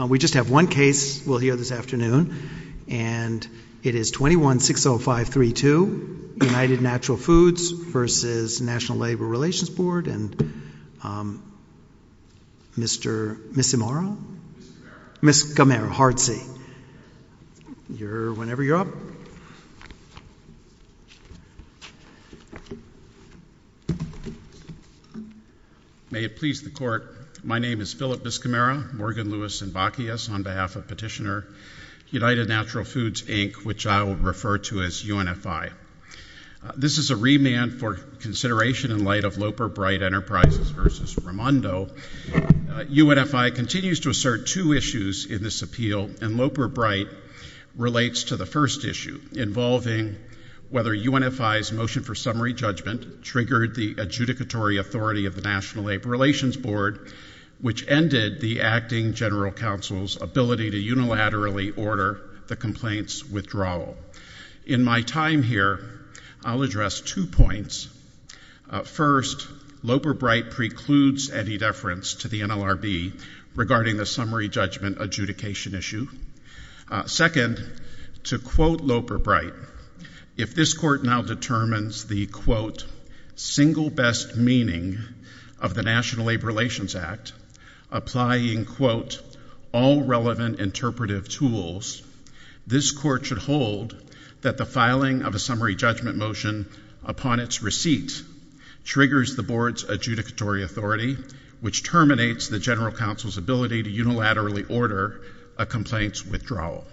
We just have one case we'll hear this afternoon, and it is 21-605-32, United Natural Foods v. National Labor Relations Board, and Mr. Miscimarra? Miscamarra. Miscamarra, hard C. You're whenever you're up. May it please the Court, my name is Philip Miscimarra, Morgan, Lewis, and Bacchius on behalf of Petitioner, United Natural Foods, Inc., which I will refer to as UNFI. This is a remand for consideration in light of Loper Bright Enterprises v. Raimondo. UNFI continues to assert two issues in this appeal, and Loper Bright relates to the first issue, involving whether UNFI's motion for summary judgment triggered the adjudicatory authority of the National Labor Relations Board, which ended the Acting General Counsel's ability to unilaterally order the complaint's withdrawal. In my time here, I'll address two points. First, Loper Bright precludes any deference to the NLRB regarding the summary judgment adjudication issue. Second, to quote Loper Bright, if this Court now determines the, quote, single best meaning of the National Labor Relations Act, applying, quote, all relevant interpretive tools, this Court should hold that the filing of a summary judgment motion upon its receipt triggers the Board's adjudicatory authority, which terminates the General Counsel's ability to unilaterally order a complaint's withdrawal.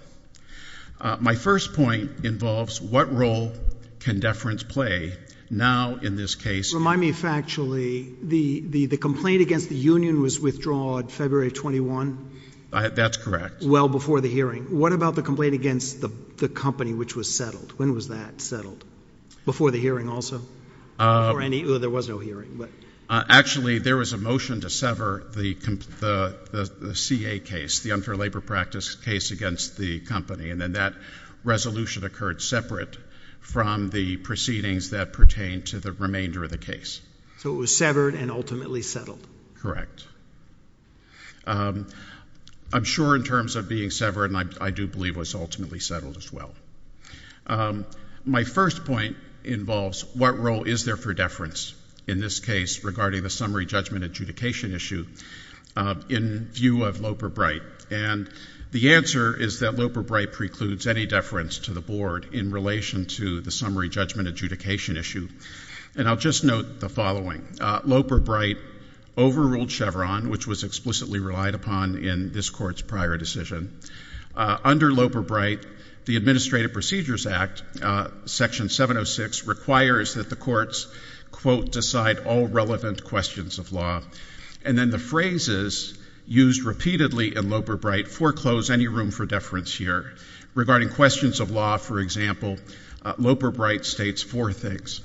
My first point involves what role can deference play now in this case? Remind me factually, the complaint against the union was withdrawn February 21? That's correct. Well, before the hearing. What about the complaint against the company which was settled? When was that settled? Before the hearing also? Before any, there was no hearing. Actually, there was a motion to sever the CA case, the unfair labor practice case against the company. And then that resolution occurred separate from the proceedings that pertain to the remainder of the case. So it was severed and ultimately settled? Correct. I'm sure in terms of being severed, and I do believe it was ultimately settled as well. My first point involves what role is there for deference in this case regarding the summary judgment adjudication issue in view of Loper-Bright? And the answer is that Loper-Bright precludes any deference to the Board in relation to the summary judgment adjudication issue. And I'll just note the following. Loper-Bright overruled Chevron, which was explicitly relied upon in this Court's prior decision. Under Loper-Bright, the Administrative Procedures Act, Section 706, requires that the courts, quote, decide all relevant questions of law. And then the phrases used repeatedly in Loper-Bright foreclose any room for deference here. Regarding questions of law, for example, Loper-Bright states four things.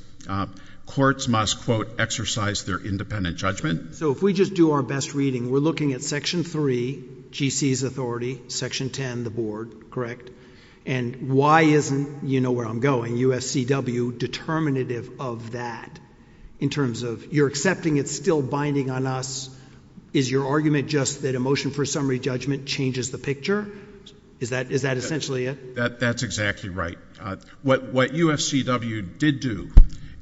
Courts must, quote, exercise their independent judgment. So if we just do our best reading, we're looking at Section 3, GC's authority, Section 10, the Board, correct? And why isn't, you know where I'm going, UFCW determinative of that in terms of you're accepting it's still binding on us? Is your argument just that a motion for summary judgment changes the picture? Is that essentially it? That's exactly right. What UFCW did do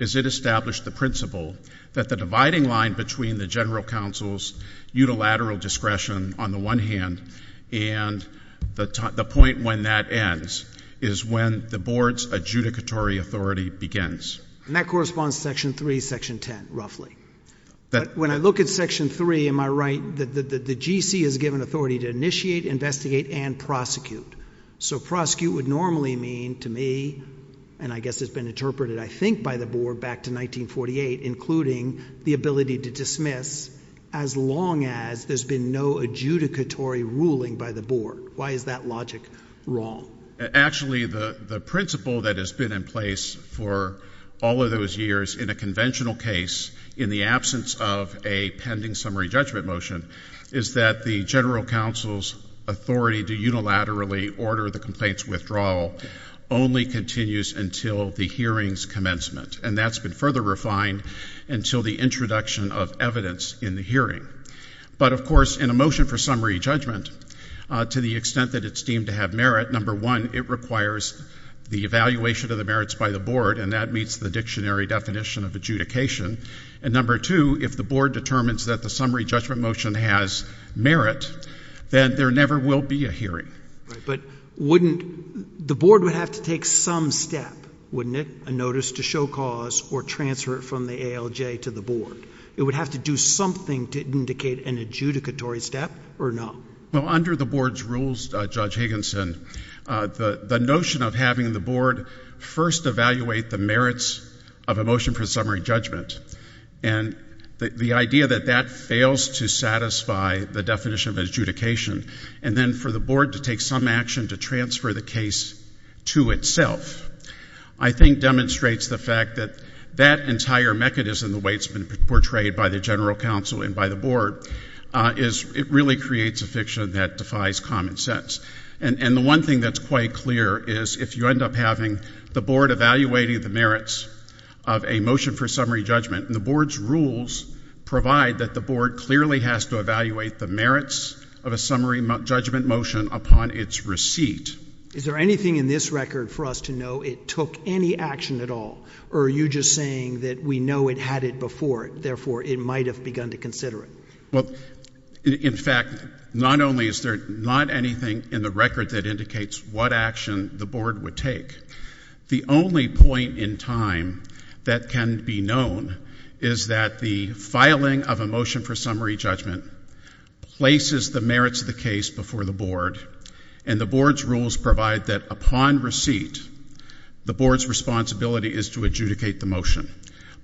is it established the principle that the dividing line between the General Counsel's unilateral discretion, on the one hand, and the point when that ends, is when the Board's adjudicatory authority begins. And that corresponds to Section 3, Section 10, roughly. But when I look at Section 3, am I right that the GC is given authority to initiate, investigate, and prosecute? So prosecute would normally mean, to me, and I guess it's been interpreted, I think, by the Board back to 1948, including the ability to dismiss as long as there's been no adjudicatory ruling by the Board. Why is that logic wrong? Actually, the principle that has been in place for all of those years in a conventional case, in the absence of a pending summary judgment motion, is that the General Counsel's authority to unilaterally order the complaint's withdrawal only continues until the hearing's commencement. And that's been further refined until the introduction of evidence in the hearing. But, of course, in a motion for summary judgment, to the extent that it's deemed to have merit, number one, it requires the evaluation of the merits by the Board, and that meets the dictionary definition of adjudication. And number two, if the Board determines that the summary judgment motion has merit, then there never will be a hearing. But wouldn't the Board have to take some step, wouldn't it, a notice to show cause or transfer it from the ALJ to the Board? It would have to do something to indicate an adjudicatory step or no? Well, under the Board's rules, Judge Higginson, the notion of having the Board first evaluate the merits of a motion for summary judgment, and the idea that that fails to satisfy the definition of adjudication, and then for the Board to take some action to transfer the case to itself, I think demonstrates the fact that that entire mechanism, the way it's been portrayed by the General Counsel and by the Board, it really creates a fiction that defies common sense. And the one thing that's quite clear is if you end up having the Board evaluating the merits of a motion for summary judgment, and the Board's rules provide that the Board clearly has to evaluate the merits of a summary judgment motion upon its receipt. Is there anything in this record for us to know it took any action at all, or are you just saying that we know it had it before, therefore, it might have begun to consider it? Well, in fact, not only is there not anything in the record that indicates what action the Board would take, the only point in time that can be known is that the filing of a motion for summary judgment places the merits of the case before the Board, and the Board's rules provide that upon receipt, the Board's responsibility is to adjudicate the motion.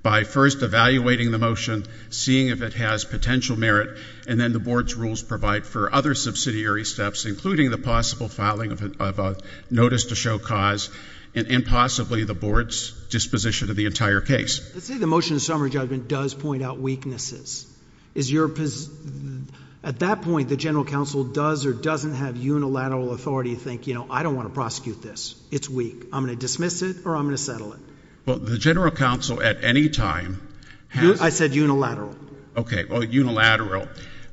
By first evaluating the motion, seeing if it has potential merit, and then the Board's rules provide for other subsidiary steps, including the possible filing of a notice to show cause, and possibly the Board's disposition of the entire case. Let's say the motion of summary judgment does point out weaknesses. At that point, the General Counsel does or doesn't have unilateral authority to think, you know, I don't want to prosecute this. It's weak. I'm going to dismiss it, or I'm going to settle it. Well, the General Counsel, at any time, has... I said unilateral. Okay. Well, unilateral.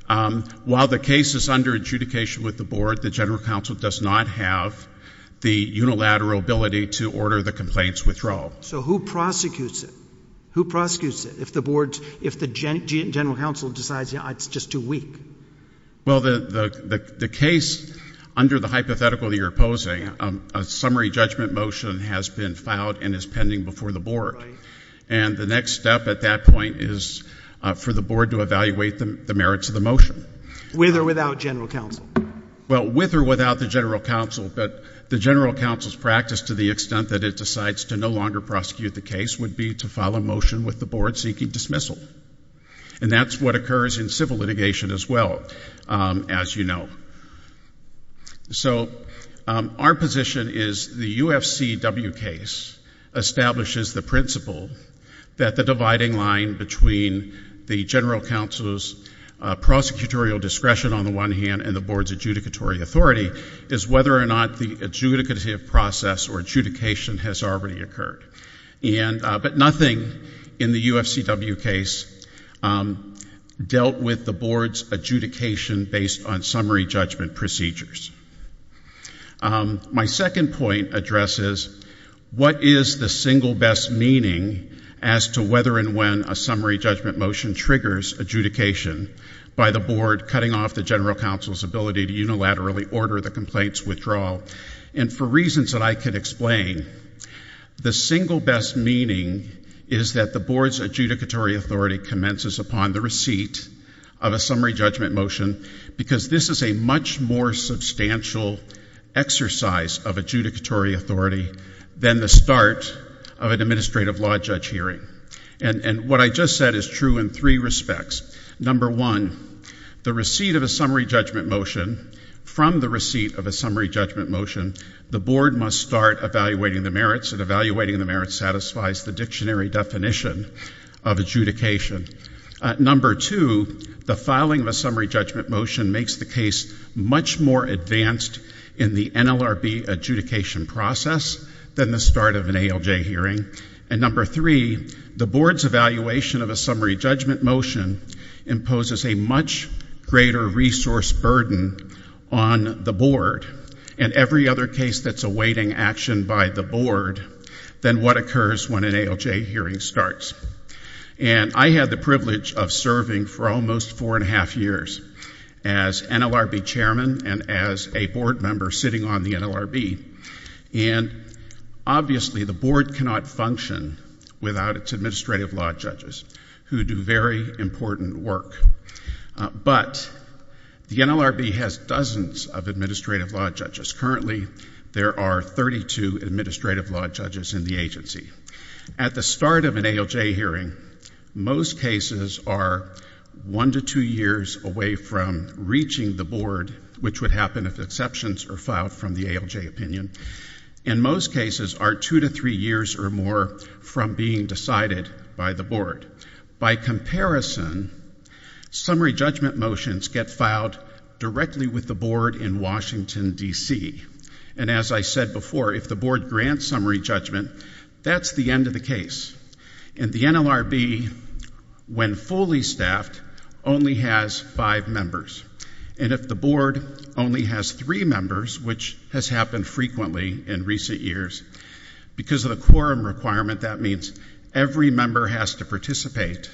While the case is under adjudication with the Board, the General Counsel does not have the unilateral ability to order the complaint's withdrawal. So who prosecutes it? Who prosecutes it if the Board's, if the General Counsel decides, you know, it's just too weak? Well, the case, under the hypothetical that you're opposing, a summary judgment motion has been filed and is pending before the Board. And the next step at that point is for the Board to evaluate the merits of the motion. With or without General Counsel? Well, with or without the General Counsel. But the General Counsel's practice, to the extent that it decides to no longer prosecute the case, would be to file a motion with the Board seeking dismissal. And that's what occurs in civil litigation as well, as you know. So, our position is the UFCW case establishes the principle that the dividing line between the General Counsel's prosecutorial discretion, on the one hand, and the Board's adjudicatory authority, is whether or not the adjudicative process or adjudication has already occurred. And, but nothing in the UFCW case dealt with the Board's adjudication based on summary judgment procedures. My second point addresses what is the single best meaning as to whether and when a summary judgment motion triggers adjudication by the Board cutting off the General Counsel's ability to unilaterally order the complaint's withdrawal. And for reasons that I can explain, the single best meaning is that the Board's adjudicatory authority commences upon the receipt of a summary judgment motion, because this is a much more substantial exercise of adjudicatory authority than the start of an administrative law judge hearing. And what I just said is true in three respects. Number one, the receipt of a summary judgment motion, from the receipt of a summary judgment motion, the Board must start evaluating the merits, and evaluating the merits satisfies the dictionary definition of adjudication. Number two, the filing of a summary judgment motion makes the case much more advanced in the NLRB adjudication process than the start of an ALJ hearing. And number three, the Board's evaluation of a summary judgment motion imposes a much greater resource burden on the Board and every other case that's awaiting action by the Board than what occurs when an ALJ hearing starts. And I had the privilege of serving for almost four and a half years as NLRB Chairman and as a Board member sitting on the NLRB. And obviously, the Board cannot function without its administrative law judges who do very important work. But the NLRB has dozens of administrative law judges. Currently, there are 32 administrative law judges in the agency. At the start of an ALJ hearing, most cases are one to two years away from reaching the Board, which would happen if exceptions are filed from the ALJ opinion. And most cases are two to three years or more from being decided by the Board. By comparison, summary judgment motions get filed directly with the Board in Washington, D.C. And as I said before, if the Board grants summary judgment, that's the end of the case. And the NLRB, when fully staffed, only has five members. And if the Board only has three members, which has happened frequently in recent years, because of the quorum requirement, that means every member has to participate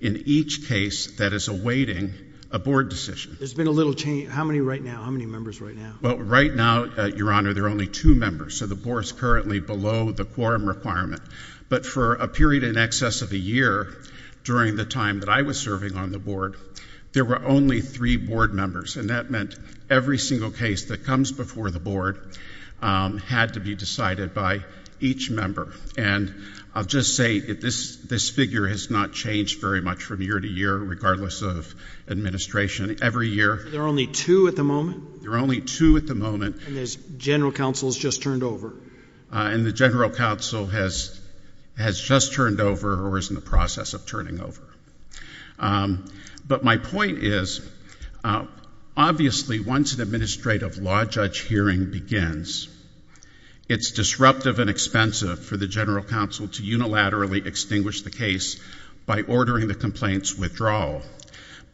in each case that is awaiting a Board decision. There's been a little change. How many right now? How many members right now? Well, right now, Your Honor, there are only two members. So the Board is currently below the quorum requirement. But for a period in excess of a year, during the time that I was serving on the Board, there were only three Board members. And that meant every single case that comes before the Board had to be decided by each member. And I'll just say that this figure has not changed very much from year to year, regardless of administration. Every year, there are only two at the moment. There are only two at the moment. And the General Counsel has just turned over. And the General Counsel has just turned over or is in the process of turning over. But my point is, obviously, once an administrative law judge hearing begins, it's disruptive and expensive for the General Counsel to unilaterally extinguish the case by ordering the complaints withdrawal.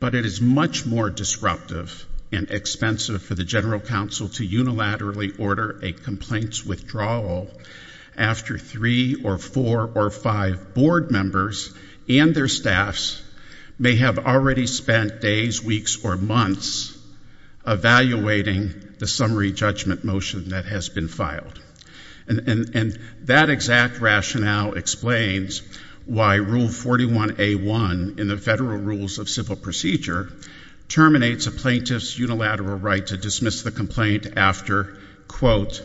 But it is much more disruptive and expensive for the General Counsel to unilaterally order a complaints withdrawal after three or four or five Board members and their staffs may have already spent days, weeks, or months evaluating the summary judgment motion that has been filed. And that exact rationale explains why Rule 41A.1 in the Federal Rules of Civil Procedure terminates a plaintiff's unilateral right to dismiss the complaint after, quote,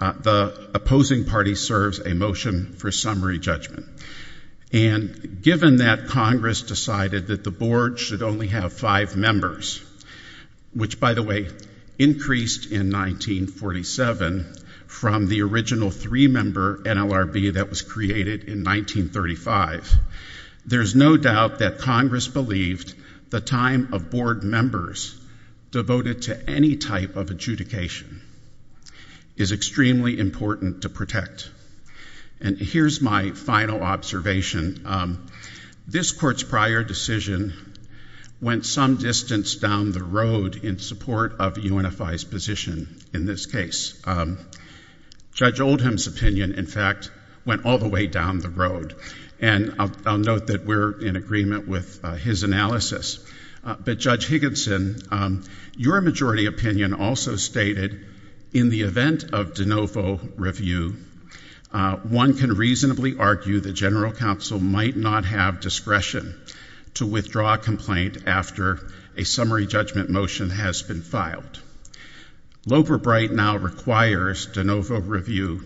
the opposing party serves a motion for summary judgment. And given that Congress decided that the Board should only have five members, which, by the way, increased in 1947 from the original three-member NLRB that was created in 1935, there's no doubt that Congress believed the time of Board members devoted to any type of adjudication is extremely important to protect. And here's my final observation. This Court's prior decision went some distance down the road in support of UNFI's position in this case. Judge Oldham's opinion, in fact, went all the way down the road. And I'll note that we're in agreement with his analysis. But Judge Higginson, your majority opinion also stated, in the event of de novo review, one can reasonably argue the General Counsel might not have discretion to withdraw a complaint after a summary judgment motion has been filed. Loeb or Bright now requires de novo review,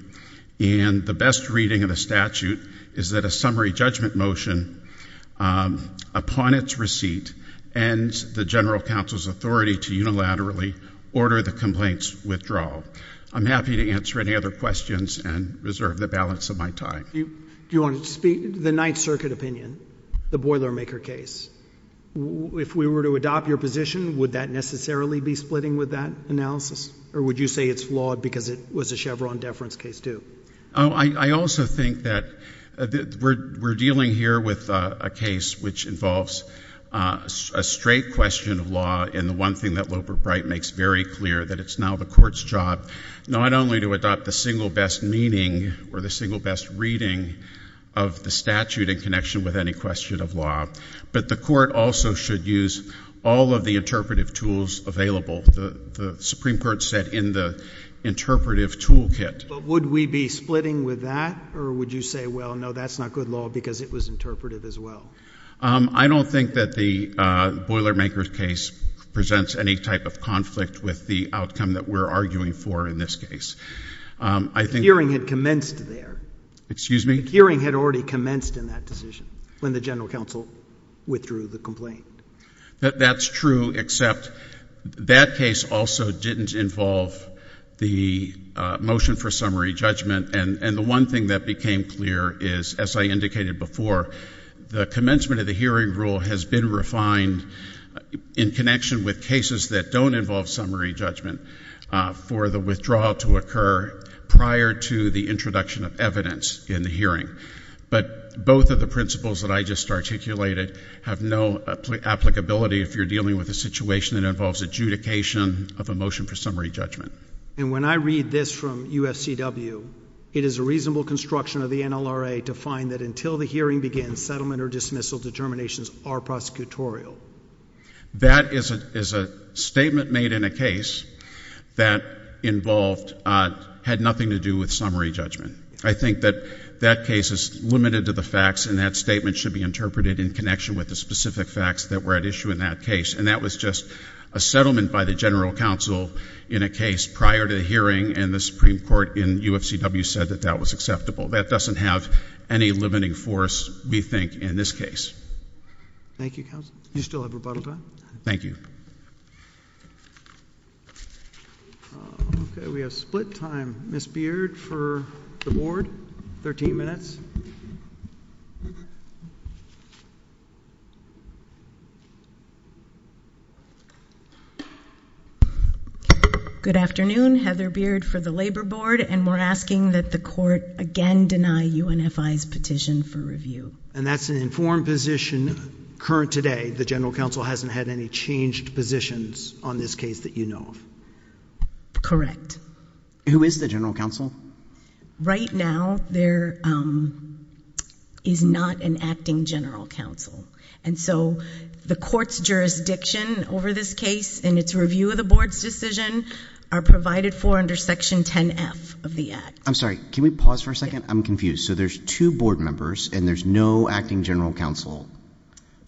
and the best reading of the statute is that a summary judgment motion, upon its receipt, ends the General Counsel's authority to unilaterally order the complaint's withdrawal. I'm happy to answer any other questions and reserve the balance of my time. Do you want to speak to the Ninth Circuit opinion, the Boilermaker case? If we were to adopt your position, would that necessarily be splitting with that analysis? Or would you say it's flawed because it was a Chevron deference case, too? I also think that we're dealing here with a case which involves a straight question of law, and the one thing that Loeb or Bright makes very clear, that it's now the Court's job, not only to adopt the single best meaning, or the single best reading, of the statute in connection with any question of law, but the Court also should use all of the interpretive tools available. The Supreme Court said in the interpretive toolkit. But would we be splitting with that, or would you say, well, no, that's not good law because it was interpretive as well? I don't think that the Boilermaker case presents any type of conflict with the outcome that we're arguing for in this case. The hearing had commenced there. Excuse me? The hearing had already commenced in that decision, when the General Counsel withdrew the complaint. That's true, except that case also didn't involve the motion for summary judgment, and the one thing that became clear is, as I indicated before, the commencement of the hearing rule has been refined in connection with cases that don't involve summary judgment for the withdrawal to occur prior to the introduction of evidence in the hearing. But both of the principles that I just articulated have no applicability if you're dealing with a situation that involves adjudication of a motion for summary judgment. And when I read this from UFCW, it is a reasonable construction of the NLRA to find that until the hearing begins, settlement or dismissal determinations are prosecutorial. That is a statement made in a case that involved, had nothing to do with summary judgment. I think that that case is limited to the facts, and that statement should be interpreted in connection with the specific facts that were at issue in that case. And that was just a settlement by the General Counsel in a case prior to the hearing, and the Supreme Court in UFCW said that that was acceptable. That doesn't have any limiting force, we think, in this case. Thank you, counsel. You still have rebuttal time? Thank you. Okay, we have split time. Ms. Beard for the Board, 13 minutes. Good afternoon. Heather Beard for the Labor Board, and we're asking that the court again deny UNFI's petition for review. And that's an informed position current today. The General Counsel hasn't had any changed positions on this case that you know of? Who is the General Counsel? Right now, there is not an acting General Counsel. And so the court's jurisdiction over this case and its review of the Board's decision are provided for under Section 10F of the Act. I'm sorry, can we pause for a second? I'm confused. So there's two Board members, and there's no acting General Counsel.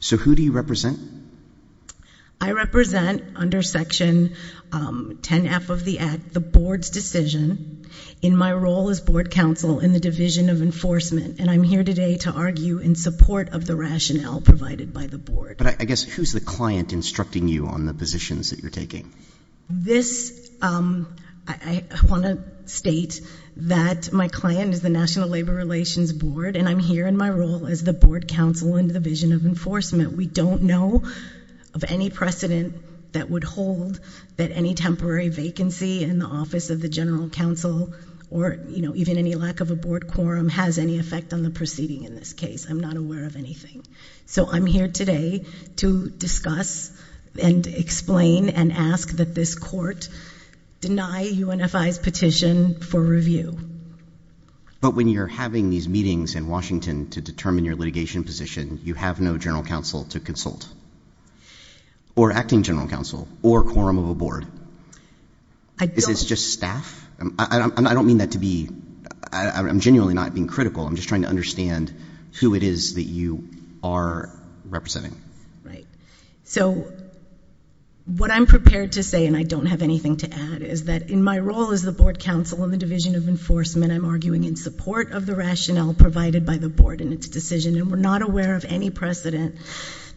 So who do you represent? I represent, under Section 10F of the Act, the Board's decision in my role as Board Counsel in the Division of Enforcement. And I'm here today to argue in support of the rationale provided by the Board. But I guess who's the client instructing you on the positions that you're taking? This, I want to state that my client is the National Labor Relations Board, and I'm here in my role as the Board Counsel in the Division of Enforcement. We don't know of any precedent that would hold that any temporary vacancy in the office of the General Counsel or, you know, even any lack of a Board quorum has any effect on the proceeding in this case. I'm not aware of anything. So I'm here today to discuss and explain and ask that this court deny UNFI's petition for review. But when you're having these meetings in Washington to determine your litigation position, you have no General Counsel to consult, or acting General Counsel, or quorum of a Board. I don't. Is this just staff? I don't mean that to be, I'm genuinely not being critical. I'm just trying to understand who it is that you are representing. Right. So what I'm prepared to say, and I don't have anything to add, is that in my role as the Board Counsel in the Division of Enforcement, I'm arguing in support of the rationale provided by the Board in its decision, and we're not aware of any precedent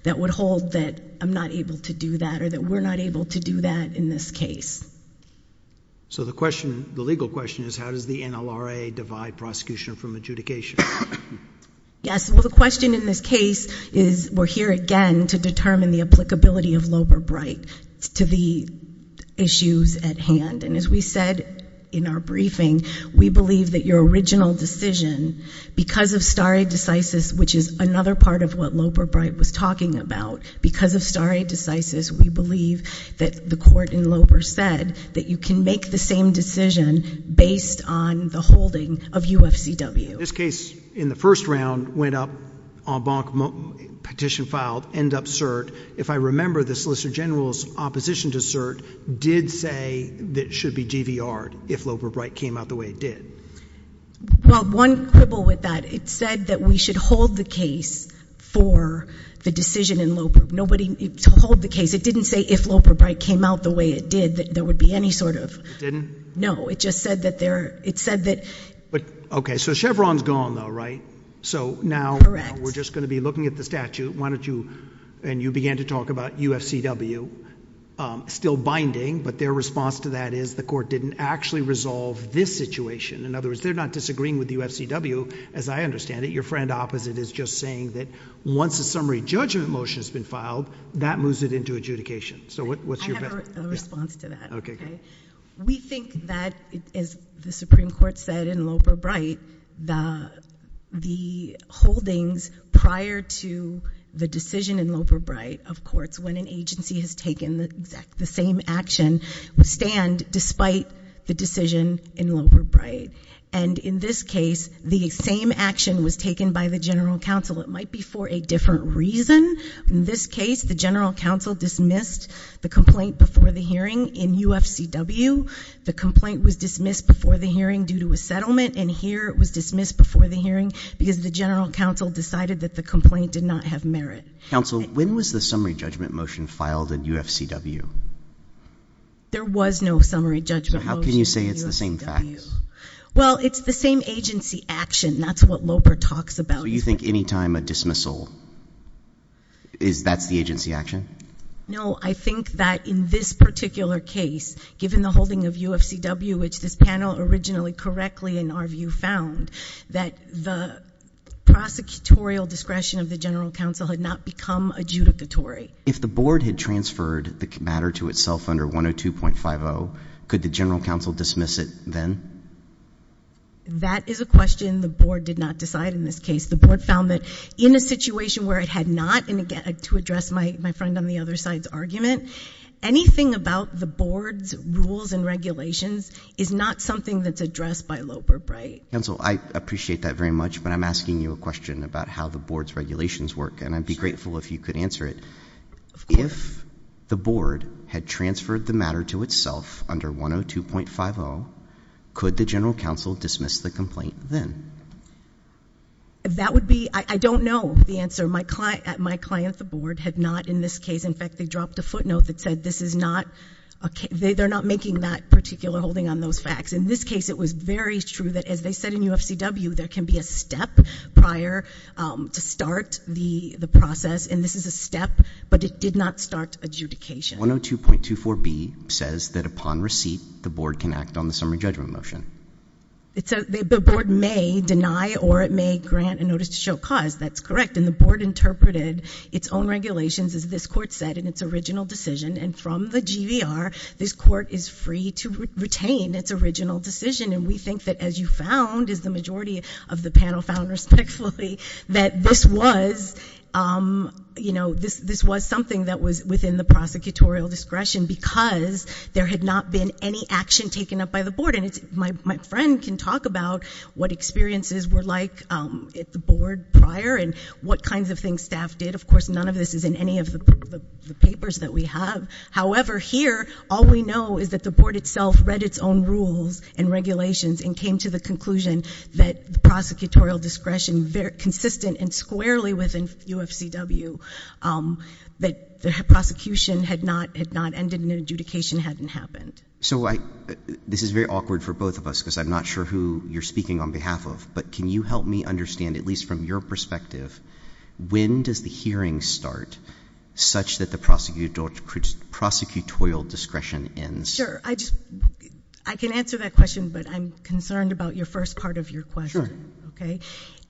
that would hold that I'm not able to do that or that we're not able to do that in this case. So the legal question is how does the NLRA divide prosecution from adjudication? Yes. Well, the question in this case is we're here, again, to determine the applicability of Loper-Bright to the issues at hand. And as we said in our briefing, we believe that your original decision, because of stare decisis, which is another part of what Loper-Bright was talking about, because of stare decisis, we believe that the court in Loper said that you can make the same decision based on the holding of UFCW. This case, in the first round, went up, en banc petition filed, end up cert. If I remember, the Solicitor General's opposition to cert did say that it should be DVR'd if Loper-Bright came out the way it did. Well, one quibble with that, it said that we should hold the case for the decision in Loper. Nobody told the case. It didn't say if Loper-Bright came out the way it did that there would be any sort of – It didn't? No. It just said that there – it said that – Okay, so Chevron's gone though, right? Correct. So now we're just going to be looking at the statute. Why don't you – and you began to talk about UFCW still binding, but their response to that is the court didn't actually resolve this situation. In other words, they're not disagreeing with UFCW, as I understand it. Your friend opposite is just saying that once a summary judgment motion has been filed, that moves it into adjudication. I have a response to that. We think that, as the Supreme Court said in Loper-Bright, the holdings prior to the decision in Loper-Bright, of course, when an agency has taken the same action, stand despite the decision in Loper-Bright. And in this case, the same action was taken by the general counsel. It might be for a different reason. In this case, the general counsel dismissed the complaint before the hearing in UFCW. The complaint was dismissed before the hearing due to a settlement, and here it was dismissed before the hearing because the general counsel decided that the complaint did not have merit. Counsel, when was the summary judgment motion filed in UFCW? There was no summary judgment motion in UFCW. So how can you say it's the same fact? Well, it's the same agency action. That's what Loper talks about. So you think anytime a dismissal, that's the agency action? No, I think that in this particular case, given the holding of UFCW, which this panel originally correctly, in our view, found, that the prosecutorial discretion of the general counsel had not become adjudicatory. If the board had transferred the matter to itself under 102.50, could the general counsel dismiss it then? That is a question the board did not decide in this case. The board found that in a situation where it had not, and again, to address my friend on the other side's argument, anything about the board's rules and regulations is not something that's addressed by Loper, right? Counsel, I appreciate that very much, but I'm asking you a question about how the board's regulations work, and I'd be grateful if you could answer it. If the board had transferred the matter to itself under 102.50, could the general counsel dismiss the complaint then? That would be, I don't know the answer. My client, the board, had not in this case. In fact, they dropped a footnote that said this is not, they're not making that particular holding on those facts. In this case, it was very true that, as they said in UFCW, there can be a step prior to start the process, and this is a step, but it did not start adjudication. 102.24b says that upon receipt, the board can act on the summary judgment motion. The board may deny or it may grant a notice to show cause. That's correct, and the board interpreted its own regulations, as this court said, in its original decision, and from the GVR, this court is free to retain its original decision, and we think that, as you found, as the majority of the panel found respectfully, that this was, you know, this was something that was within the prosecutorial discretion because there had not been any action taken up by the board, and my friend can talk about what experiences were like at the board prior and what kinds of things staff did. Of course, none of this is in any of the papers that we have. However, here, all we know is that the board itself read its own rules and regulations and came to the conclusion that the prosecutorial discretion, very consistent and squarely within UFCW, that the prosecution had not ended and adjudication hadn't happened. So this is very awkward for both of us because I'm not sure who you're speaking on behalf of, but can you help me understand, at least from your perspective, when does the hearing start such that the prosecutorial discretion ends? Sure. I just, I can answer that question, but I'm concerned about your first part of your question. Okay?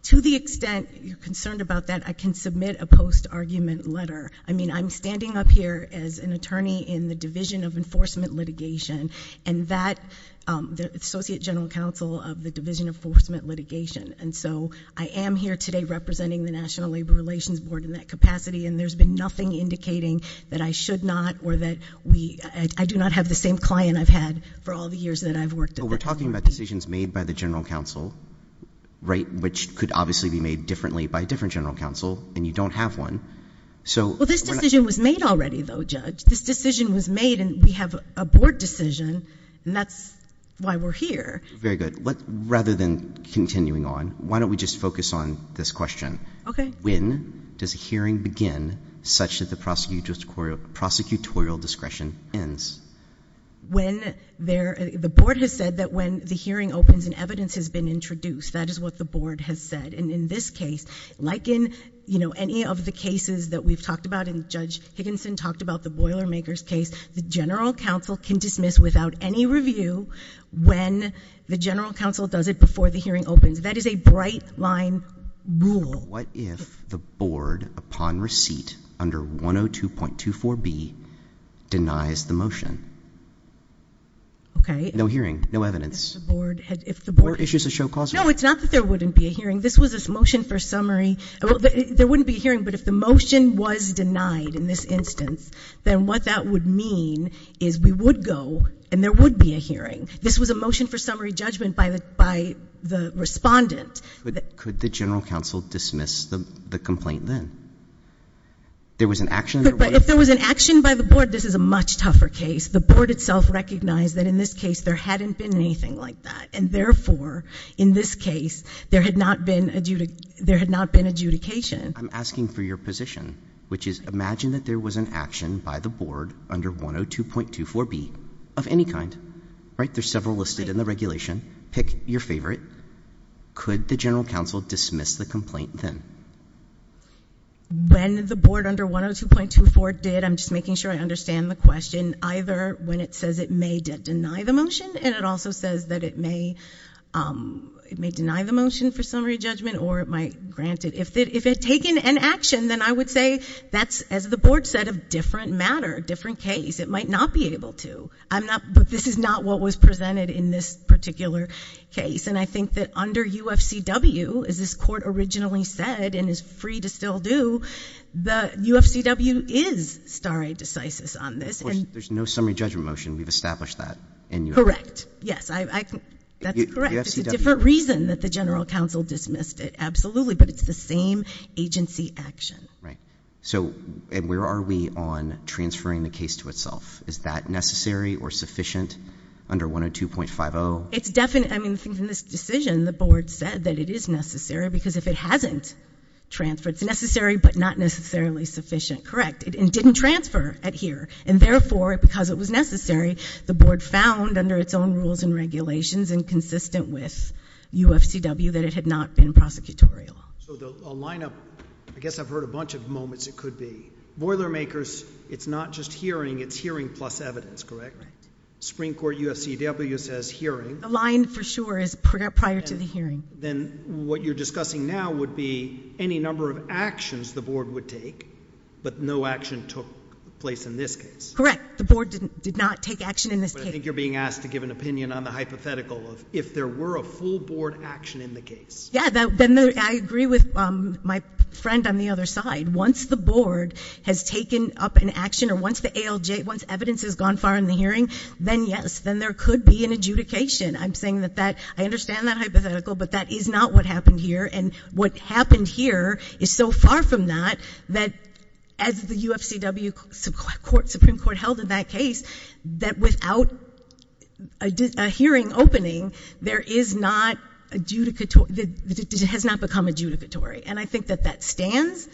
To the extent you're concerned about that, I can submit a post-argument letter. I mean, I'm standing up here as an attorney in the Division of Enforcement Litigation and that, the Associate General Counsel of the Division of Enforcement Litigation, and so I am here today representing the National Labor Relations Board in that capacity, and there's been nothing indicating that I should not or that we, I do not have the same client I've had for all the years that I've worked at this. But we're talking about decisions made by the General Counsel, right, which could obviously be made differently by a different General Counsel, and you don't have one. Well, this decision was made already, though, Judge. This decision was made, and we have a board decision, and that's why we're here. Very good. Rather than continuing on, why don't we just focus on this question? Okay. When does a hearing begin such that the prosecutorial discretion ends? When there, the board has said that when the hearing opens and evidence has been introduced. That is what the board has said. And in this case, like in, you know, any of the cases that we've talked about, and Judge Higginson talked about the Boilermakers case, the General Counsel can dismiss without any review when the General Counsel does it before the hearing opens. That is a bright-line rule. What if the board, upon receipt under 102.24b, denies the motion? Okay. No hearing, no evidence. If the board had, if the board had. Or issues a show-causal. No, it's not that there wouldn't be a hearing. This was a motion for summary. There wouldn't be a hearing, but if the motion was denied in this instance, then what that would mean is we would go, and there would be a hearing. This was a motion for summary judgment by the respondent. Could the General Counsel dismiss the complaint then? There was an action. But if there was an action by the board, this is a much tougher case. The board itself recognized that in this case there hadn't been anything like that, and therefore, in this case, there had not been adjudication. I'm asking for your position, which is imagine that there was an action by the board under 102.24b of any kind. Right? There's several listed in the regulation. Pick your favorite. Could the General Counsel dismiss the complaint then? When the board under 102.24 did, I'm just making sure I understand the question, either when it says it may deny the motion, and it also says that it may deny the motion for summary judgment, or it might grant it. If it had taken an action, then I would say that's, as the board said, a different matter, a different case. It might not be able to. But this is not what was presented in this particular case, and I think that under UFCW, as this court originally said and is free to still do, UFCW is stare decisis on this. Of course, there's no summary judgment motion. We've established that. Correct. Yes, that's correct. It's a different reason that the General Counsel dismissed it, absolutely, but it's the same agency action. Right. So where are we on transferring the case to itself? Is that necessary or sufficient under 102.50? It's definite. I mean, in this decision, the board said that it is necessary because if it hasn't transferred, it's necessary but not necessarily sufficient. Correct. It didn't transfer at here, and therefore, because it was necessary, the board found under its own rules and regulations and consistent with UFCW that it had not been prosecutorial. So a lineup, I guess I've heard a bunch of moments it could be. Boilermakers, it's not just hearing. It's hearing plus evidence, correct? Supreme Court UFCW says hearing. Aligned for sure is prior to the hearing. Then what you're discussing now would be any number of actions the board would take, but no action took place in this case. Correct. The board did not take action in this case. I think you're being asked to give an opinion on the hypothetical of if there were a full board action in the case. Yeah, then I agree with my friend on the other side. Once the board has taken up an action or once the ALJ, once evidence has gone far in the hearing, then yes, then there could be an adjudication. I'm saying that that, I understand that hypothetical, but that is not what happened here, and what happened here is so far from that that as the UFCW Supreme Court held in that case, that without a hearing opening, there is not adjudicatory, it has not become adjudicatory. And I think that that stands.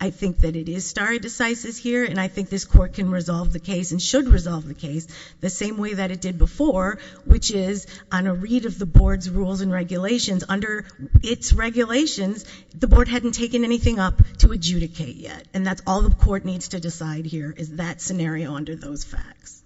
I think that it is stare decisis here, and I think this court can resolve the case and should resolve the case the same way that it did before, which is on a read of the board's rules and regulations. Under its regulations, the board hadn't taken anything up to adjudicate yet, and that's all the court needs to decide here is that scenario under those facts.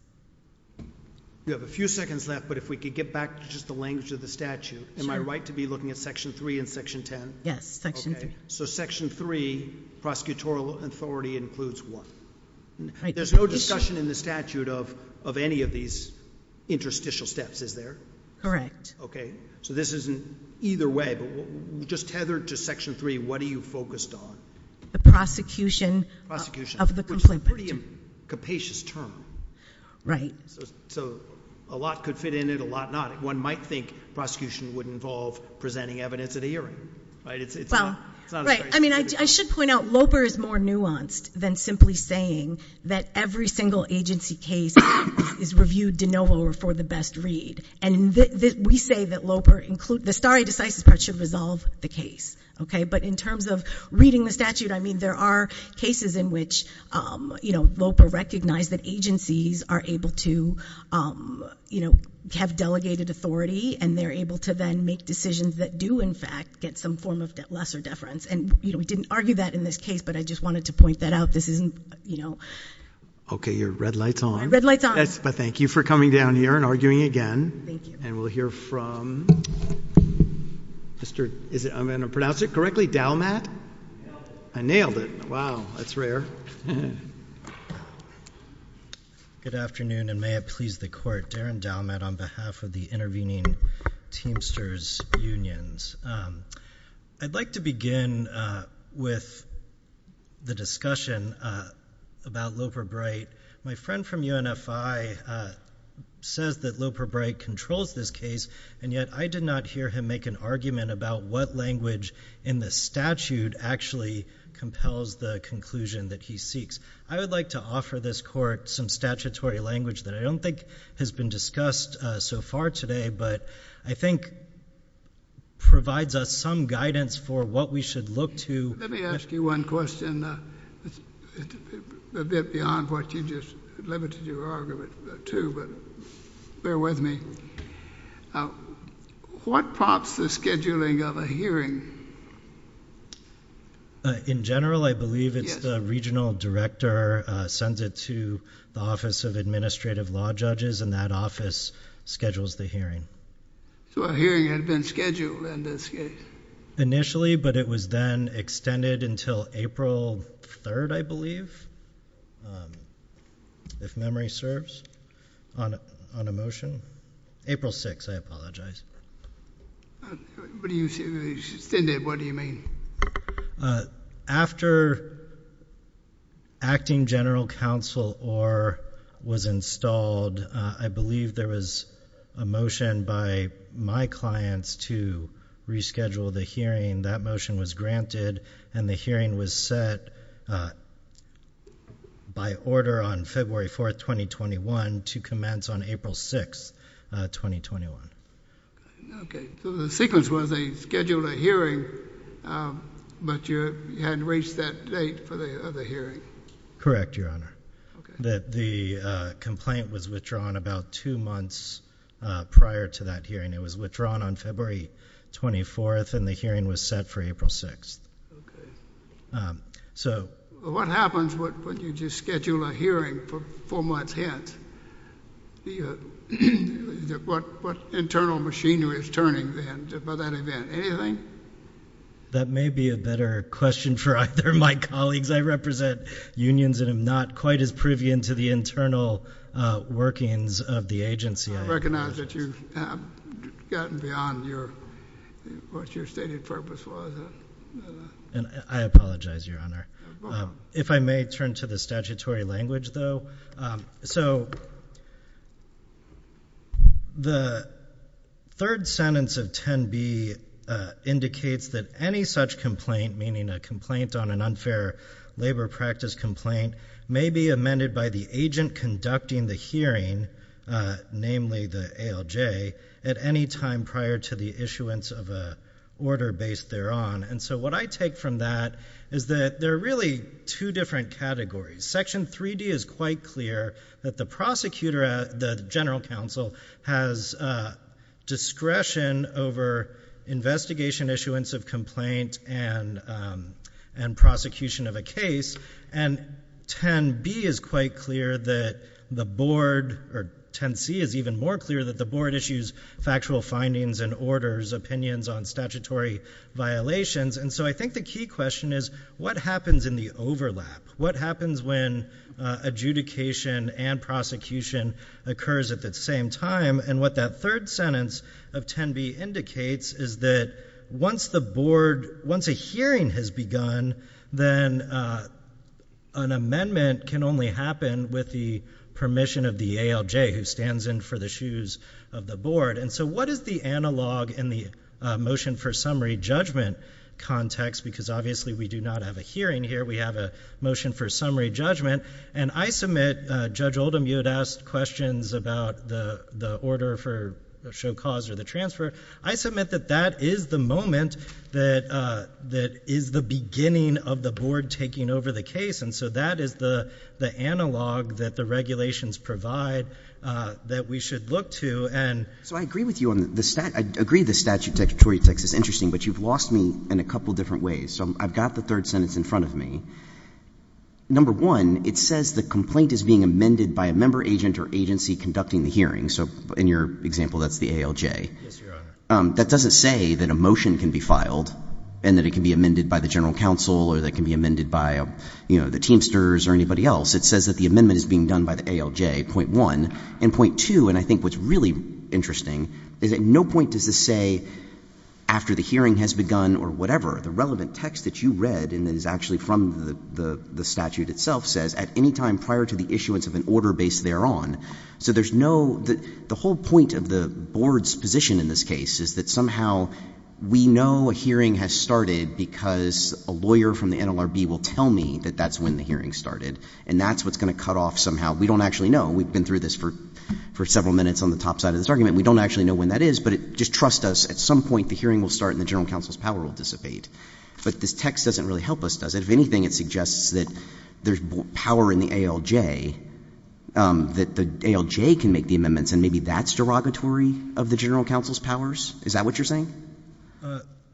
We have a few seconds left, but if we could get back to just the language of the statute. Am I right to be looking at Section 3 and Section 10? Yes, Section 3. So Section 3, prosecutorial authority includes what? There's no discussion in the statute of any of these interstitial steps, is there? Correct. Okay, so this isn't either way, but just tethered to Section 3, what are you focused on? The prosecution of the complainant. Which is a pretty capacious term. Right. So a lot could fit in it, a lot not. One might think prosecution would involve presenting evidence at a hearing, right? Well, right. I mean, I should point out, LOPA is more nuanced than simply saying that every single agency case is reviewed de novo or for the best read, and we say that LOPA, the stare decisis part should resolve the case, okay? But in terms of reading the statute, I mean, there are cases in which, you know, LOPA recognized that agencies are able to, you know, have delegated authority and they're able to then make decisions that do, in fact, get some form of lesser deference. And, you know, we didn't argue that in this case, but I just wanted to point that out. This isn't, you know. Okay, your red light's on. My red light's on. But thank you for coming down here and arguing again. Thank you. And we'll hear from Mr. Is it, I'm going to pronounce it correctly, Dalmat? Nailed it. I nailed it. Wow, that's rare. Good afternoon, and may it please the court. Darren Dalmat on behalf of the intervening Teamsters Unions. I'd like to begin with the discussion about LOPA-Bright. My friend from UNFI says that LOPA-Bright controls this case, and yet I did not hear him make an argument about what language in the statute actually compels the conclusion that he seeks. I would like to offer this court some statutory language that I don't think has been discussed so far today, but I think provides us some guidance for what we should look to. Let me ask you one question. It's a bit beyond what you just limited your argument to, but bear with me. What prompts the scheduling of a hearing? In general, I believe it's the regional director sends it to the Office of Administrative Law Judges, and that office schedules the hearing. So a hearing had been scheduled in this case. Initially, but it was then extended until April 3rd, I believe, if memory serves, on a motion. April 6th, I apologize. What do you mean? After Acting General Counsel Orr was installed, I believe there was a motion by my clients to reschedule the hearing. That motion was granted, and the hearing was set by order on February 4th, 2021, to commence on April 6th, 2021. Okay. So the sequence was they scheduled a hearing, but you hadn't reached that date for the other hearing. Correct, Your Honor. Okay. The complaint was withdrawn about two months prior to that hearing. It was withdrawn on February 24th, and the hearing was set for April 6th. Okay. So what happens when you just schedule a hearing for four months hence? What internal machinery is turning then by that event? Anything? That may be a better question for either of my colleagues. I represent unions and am not quite as privy into the internal workings of the agency. I recognize that you have gotten beyond what your stated purpose was. I apologize, Your Honor. If I may turn to the statutory language, though. So the third sentence of 10B indicates that any such complaint, meaning a complaint on an unfair labor practice complaint, may be amended by the agent conducting the hearing, namely the ALJ, at any time prior to the issuance of an order based thereon. And so what I take from that is that there are really two different categories. Section 3D is quite clear that the prosecutor, the general counsel, has discretion over investigation, issuance of complaint, and prosecution of a case. And 10B is quite clear that the board, or 10C is even more clear, that the board issues factual findings and orders, opinions on statutory violations. And so I think the key question is what happens in the overlap? What happens when adjudication and prosecution occurs at the same time? And what that third sentence of 10B indicates is that once the board, once a hearing has begun, then an amendment can only happen with the permission of the ALJ, who stands in for the shoes of the board. And so what is the analog in the motion for summary judgment context? Because obviously we do not have a hearing here. We have a motion for summary judgment. And I submit, Judge Oldham, you had asked questions about the order for show cause or the transfer. I submit that that is the moment that is the beginning of the board taking over the case. And so that is the analog that the regulations provide that we should look to. So I agree with you on the statute. I agree the statutory text is interesting, but you've lost me in a couple different ways. So I've got the third sentence in front of me. Number one, it says the complaint is being amended by a member, agent, or agency conducting the hearing. So in your example, that's the ALJ. Yes, Your Honor. That doesn't say that a motion can be filed and that it can be amended by the general counsel or that it can be amended by the Teamsters or anybody else. It says that the amendment is being done by the ALJ, point one. And point two, and I think what's really interesting, is at no point does this say after the hearing has begun or whatever. The relevant text that you read and is actually from the statute itself says at any time prior to the issuance of an order based thereon. So there's no — the whole point of the board's position in this case is that somehow we know a hearing has started because a lawyer from the NLRB will tell me that that's when the hearing started. And that's what's going to cut off somehow. We don't actually know. We've been through this for several minutes on the top side of this argument. We don't actually know when that is, but just trust us. At some point, the hearing will start and the general counsel's power will dissipate. But this text doesn't really help us, does it? If anything, it suggests that there's power in the ALJ, that the ALJ can make the amendments, and maybe that's derogatory of the general counsel's powers. Is that what you're saying?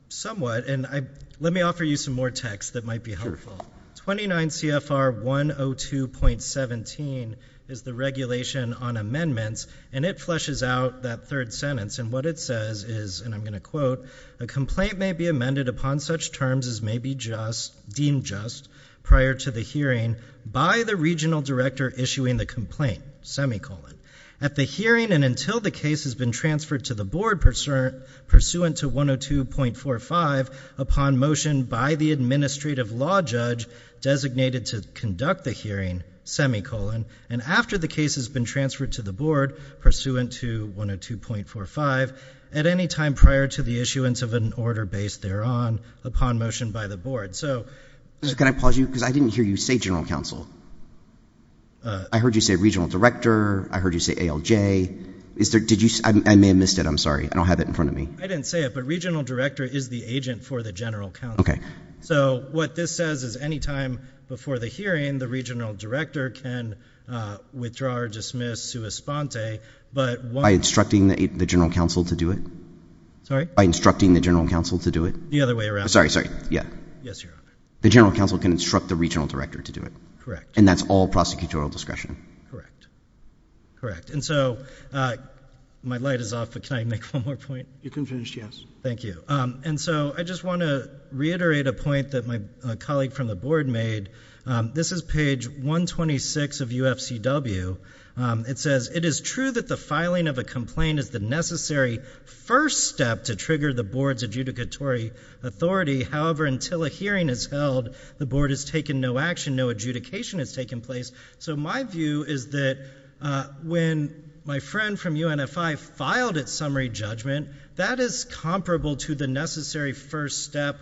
Somewhat. And let me offer you some more text that might be helpful. Sure. 29 CFR 102.17 is the regulation on amendments, and it fleshes out that third sentence. And what it says is, and I'm going to quote, a complaint may be amended upon such terms as may be deemed just prior to the hearing by the regional director issuing the complaint, semicolon. At the hearing and until the case has been transferred to the board pursuant to 102.45, upon motion by the administrative law judge designated to conduct the hearing, semicolon. And after the case has been transferred to the board pursuant to 102.45, at any time prior to the issuance of an order based thereon, upon motion by the board. Can I pause you? Because I didn't hear you say general counsel. I heard you say regional director. I heard you say ALJ. I may have missed it. I'm sorry. I don't have it in front of me. I didn't say it, but regional director is the agent for the general counsel. Okay. So what this says is any time before the hearing, the regional director can withdraw or dismiss sua sponte. By instructing the general counsel to do it? Sorry? By instructing the general counsel to do it? The other way around. Sorry, sorry. Yeah. Yes, Your Honor. The general counsel can instruct the regional director to do it? Correct. And that's all prosecutorial discretion? Correct. Correct. And so my light is off, but can I make one more point? You can finish, yes. Thank you. And so I just want to reiterate a point that my colleague from the board made. This is page 126 of UFCW. It says, it is true that the filing of a complaint is the necessary first step to trigger the board's adjudicatory authority. However, until a hearing is held, the board has taken no action. No adjudication has taken place. So my view is that when my friend from UNFI filed its summary judgment, that is comparable to the necessary first step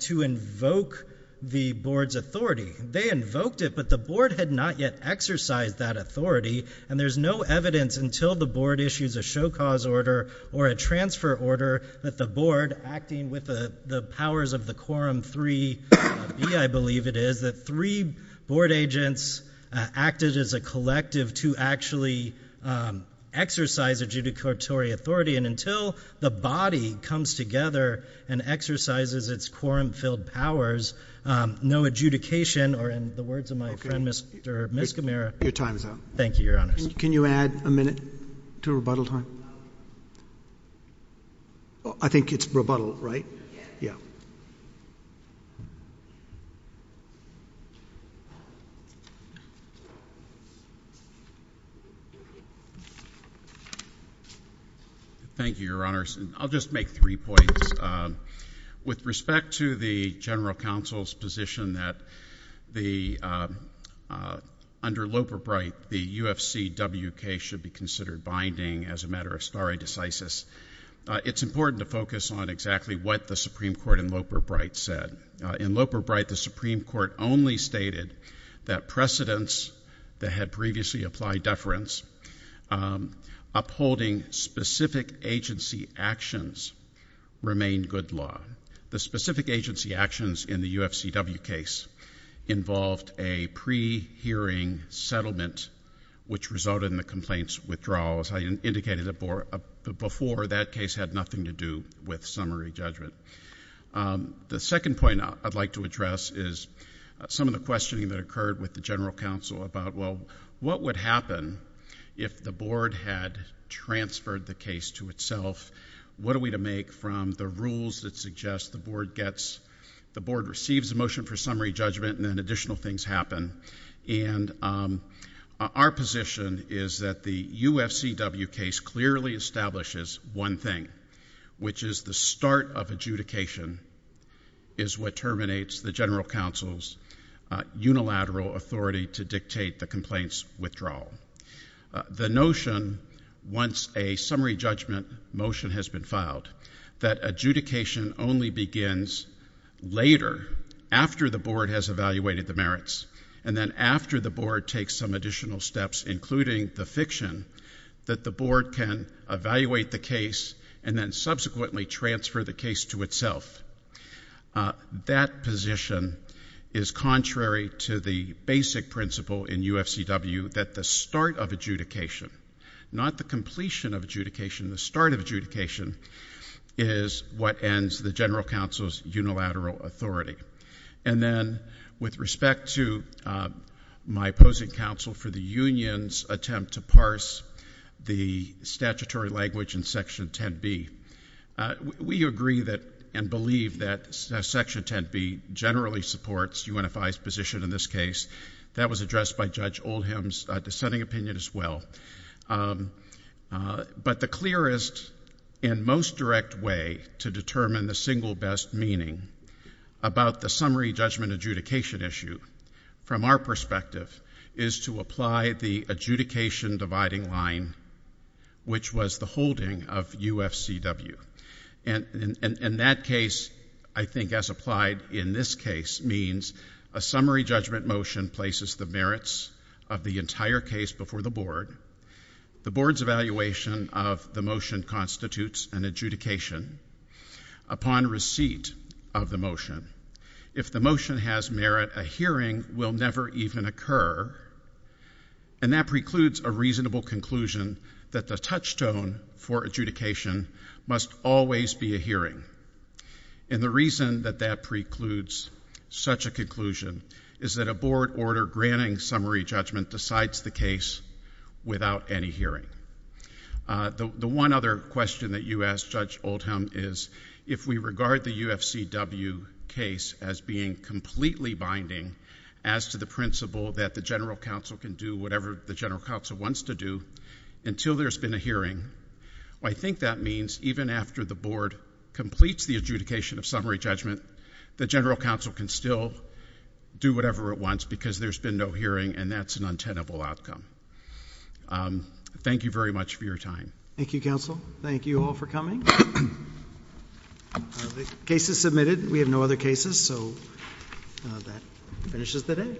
to invoke the board's authority. They invoked it, but the board had not yet exercised that authority, and there's no evidence until the board issues a show cause order or a transfer order that the board, acting with the powers of the quorum 3B, I believe it is, that three board agents acted as a collective to actually exercise adjudicatory authority. And until the body comes together and exercises its quorum-filled powers, no adjudication or, in the words of my friend, Mr. Miscamera. Your time is up. Thank you, Your Honors. Can you add a minute to rebuttal time? I think it's rebuttal, right? Yes. Yeah. Thank you, Your Honors. I'll just make three points. With respect to the general counsel's position that under Loeb or Bright the UFCWK should be considered binding as a matter of stare decisis, it's important to focus on exactly what the Supreme Court in Loeb or Bright said. In Loeb or Bright, the Supreme Court only stated that precedents that had previously applied deference upholding specific agency actions remain good law. The specific agency actions in the UFCW case involved a pre-hearing settlement which resulted in the complaint's withdrawal. As I indicated before, that case had nothing to do with summary judgment. The second point I'd like to address is some of the questioning that occurred with the general counsel about, well, what would happen if the board had transferred the case to itself? What are we to make from the rules that suggest the board receives a motion for summary judgment and then additional things happen? Our position is that the UFCW case clearly establishes one thing, which is the start of adjudication is what terminates the general counsel's unilateral authority to dictate the complaint's withdrawal. The notion, once a summary judgment motion has been filed, that adjudication only begins later, after the board has evaluated the merits, and then after the board takes some additional steps, including the fiction, that the board can evaluate the case and then subsequently transfer the case to itself. That position is contrary to the basic principle in UFCW that the start of adjudication, not the completion of adjudication, the start of adjudication, is what ends the general counsel's unilateral authority. And then with respect to my opposing counsel for the union's attempt to parse the statutory language in Section 10B, we agree and believe that Section 10B generally supports UNFI's position in this case. That was addressed by Judge Oldham's dissenting opinion as well. But the clearest and most direct way to determine the single best meaning about the summary judgment adjudication issue, from our perspective, is to apply the adjudication dividing line, which was the holding of UFCW. And that case, I think, as applied in this case, means a summary judgment motion places the merits of the entire case before the board. The board's evaluation of the motion constitutes an adjudication upon receipt of the motion. If the motion has merit, a hearing will never even occur, and that precludes a reasonable conclusion that the touchstone for adjudication must always be a hearing. And the reason that that precludes such a conclusion is that a board order granting summary judgment decides the case without any hearing. The one other question that you asked, Judge Oldham, is if we regard the UFCW case as being completely binding as to the principle that the general counsel can do whatever the general counsel wants to do until there's been a hearing, I think that means even after the board completes the adjudication of summary judgment, the general counsel can still do whatever it wants because there's been no hearing, and that's an untenable outcome. Thank you very much for your time. Thank you, counsel. Thank you all for coming. The case is submitted. We have no other cases, so that finishes the day.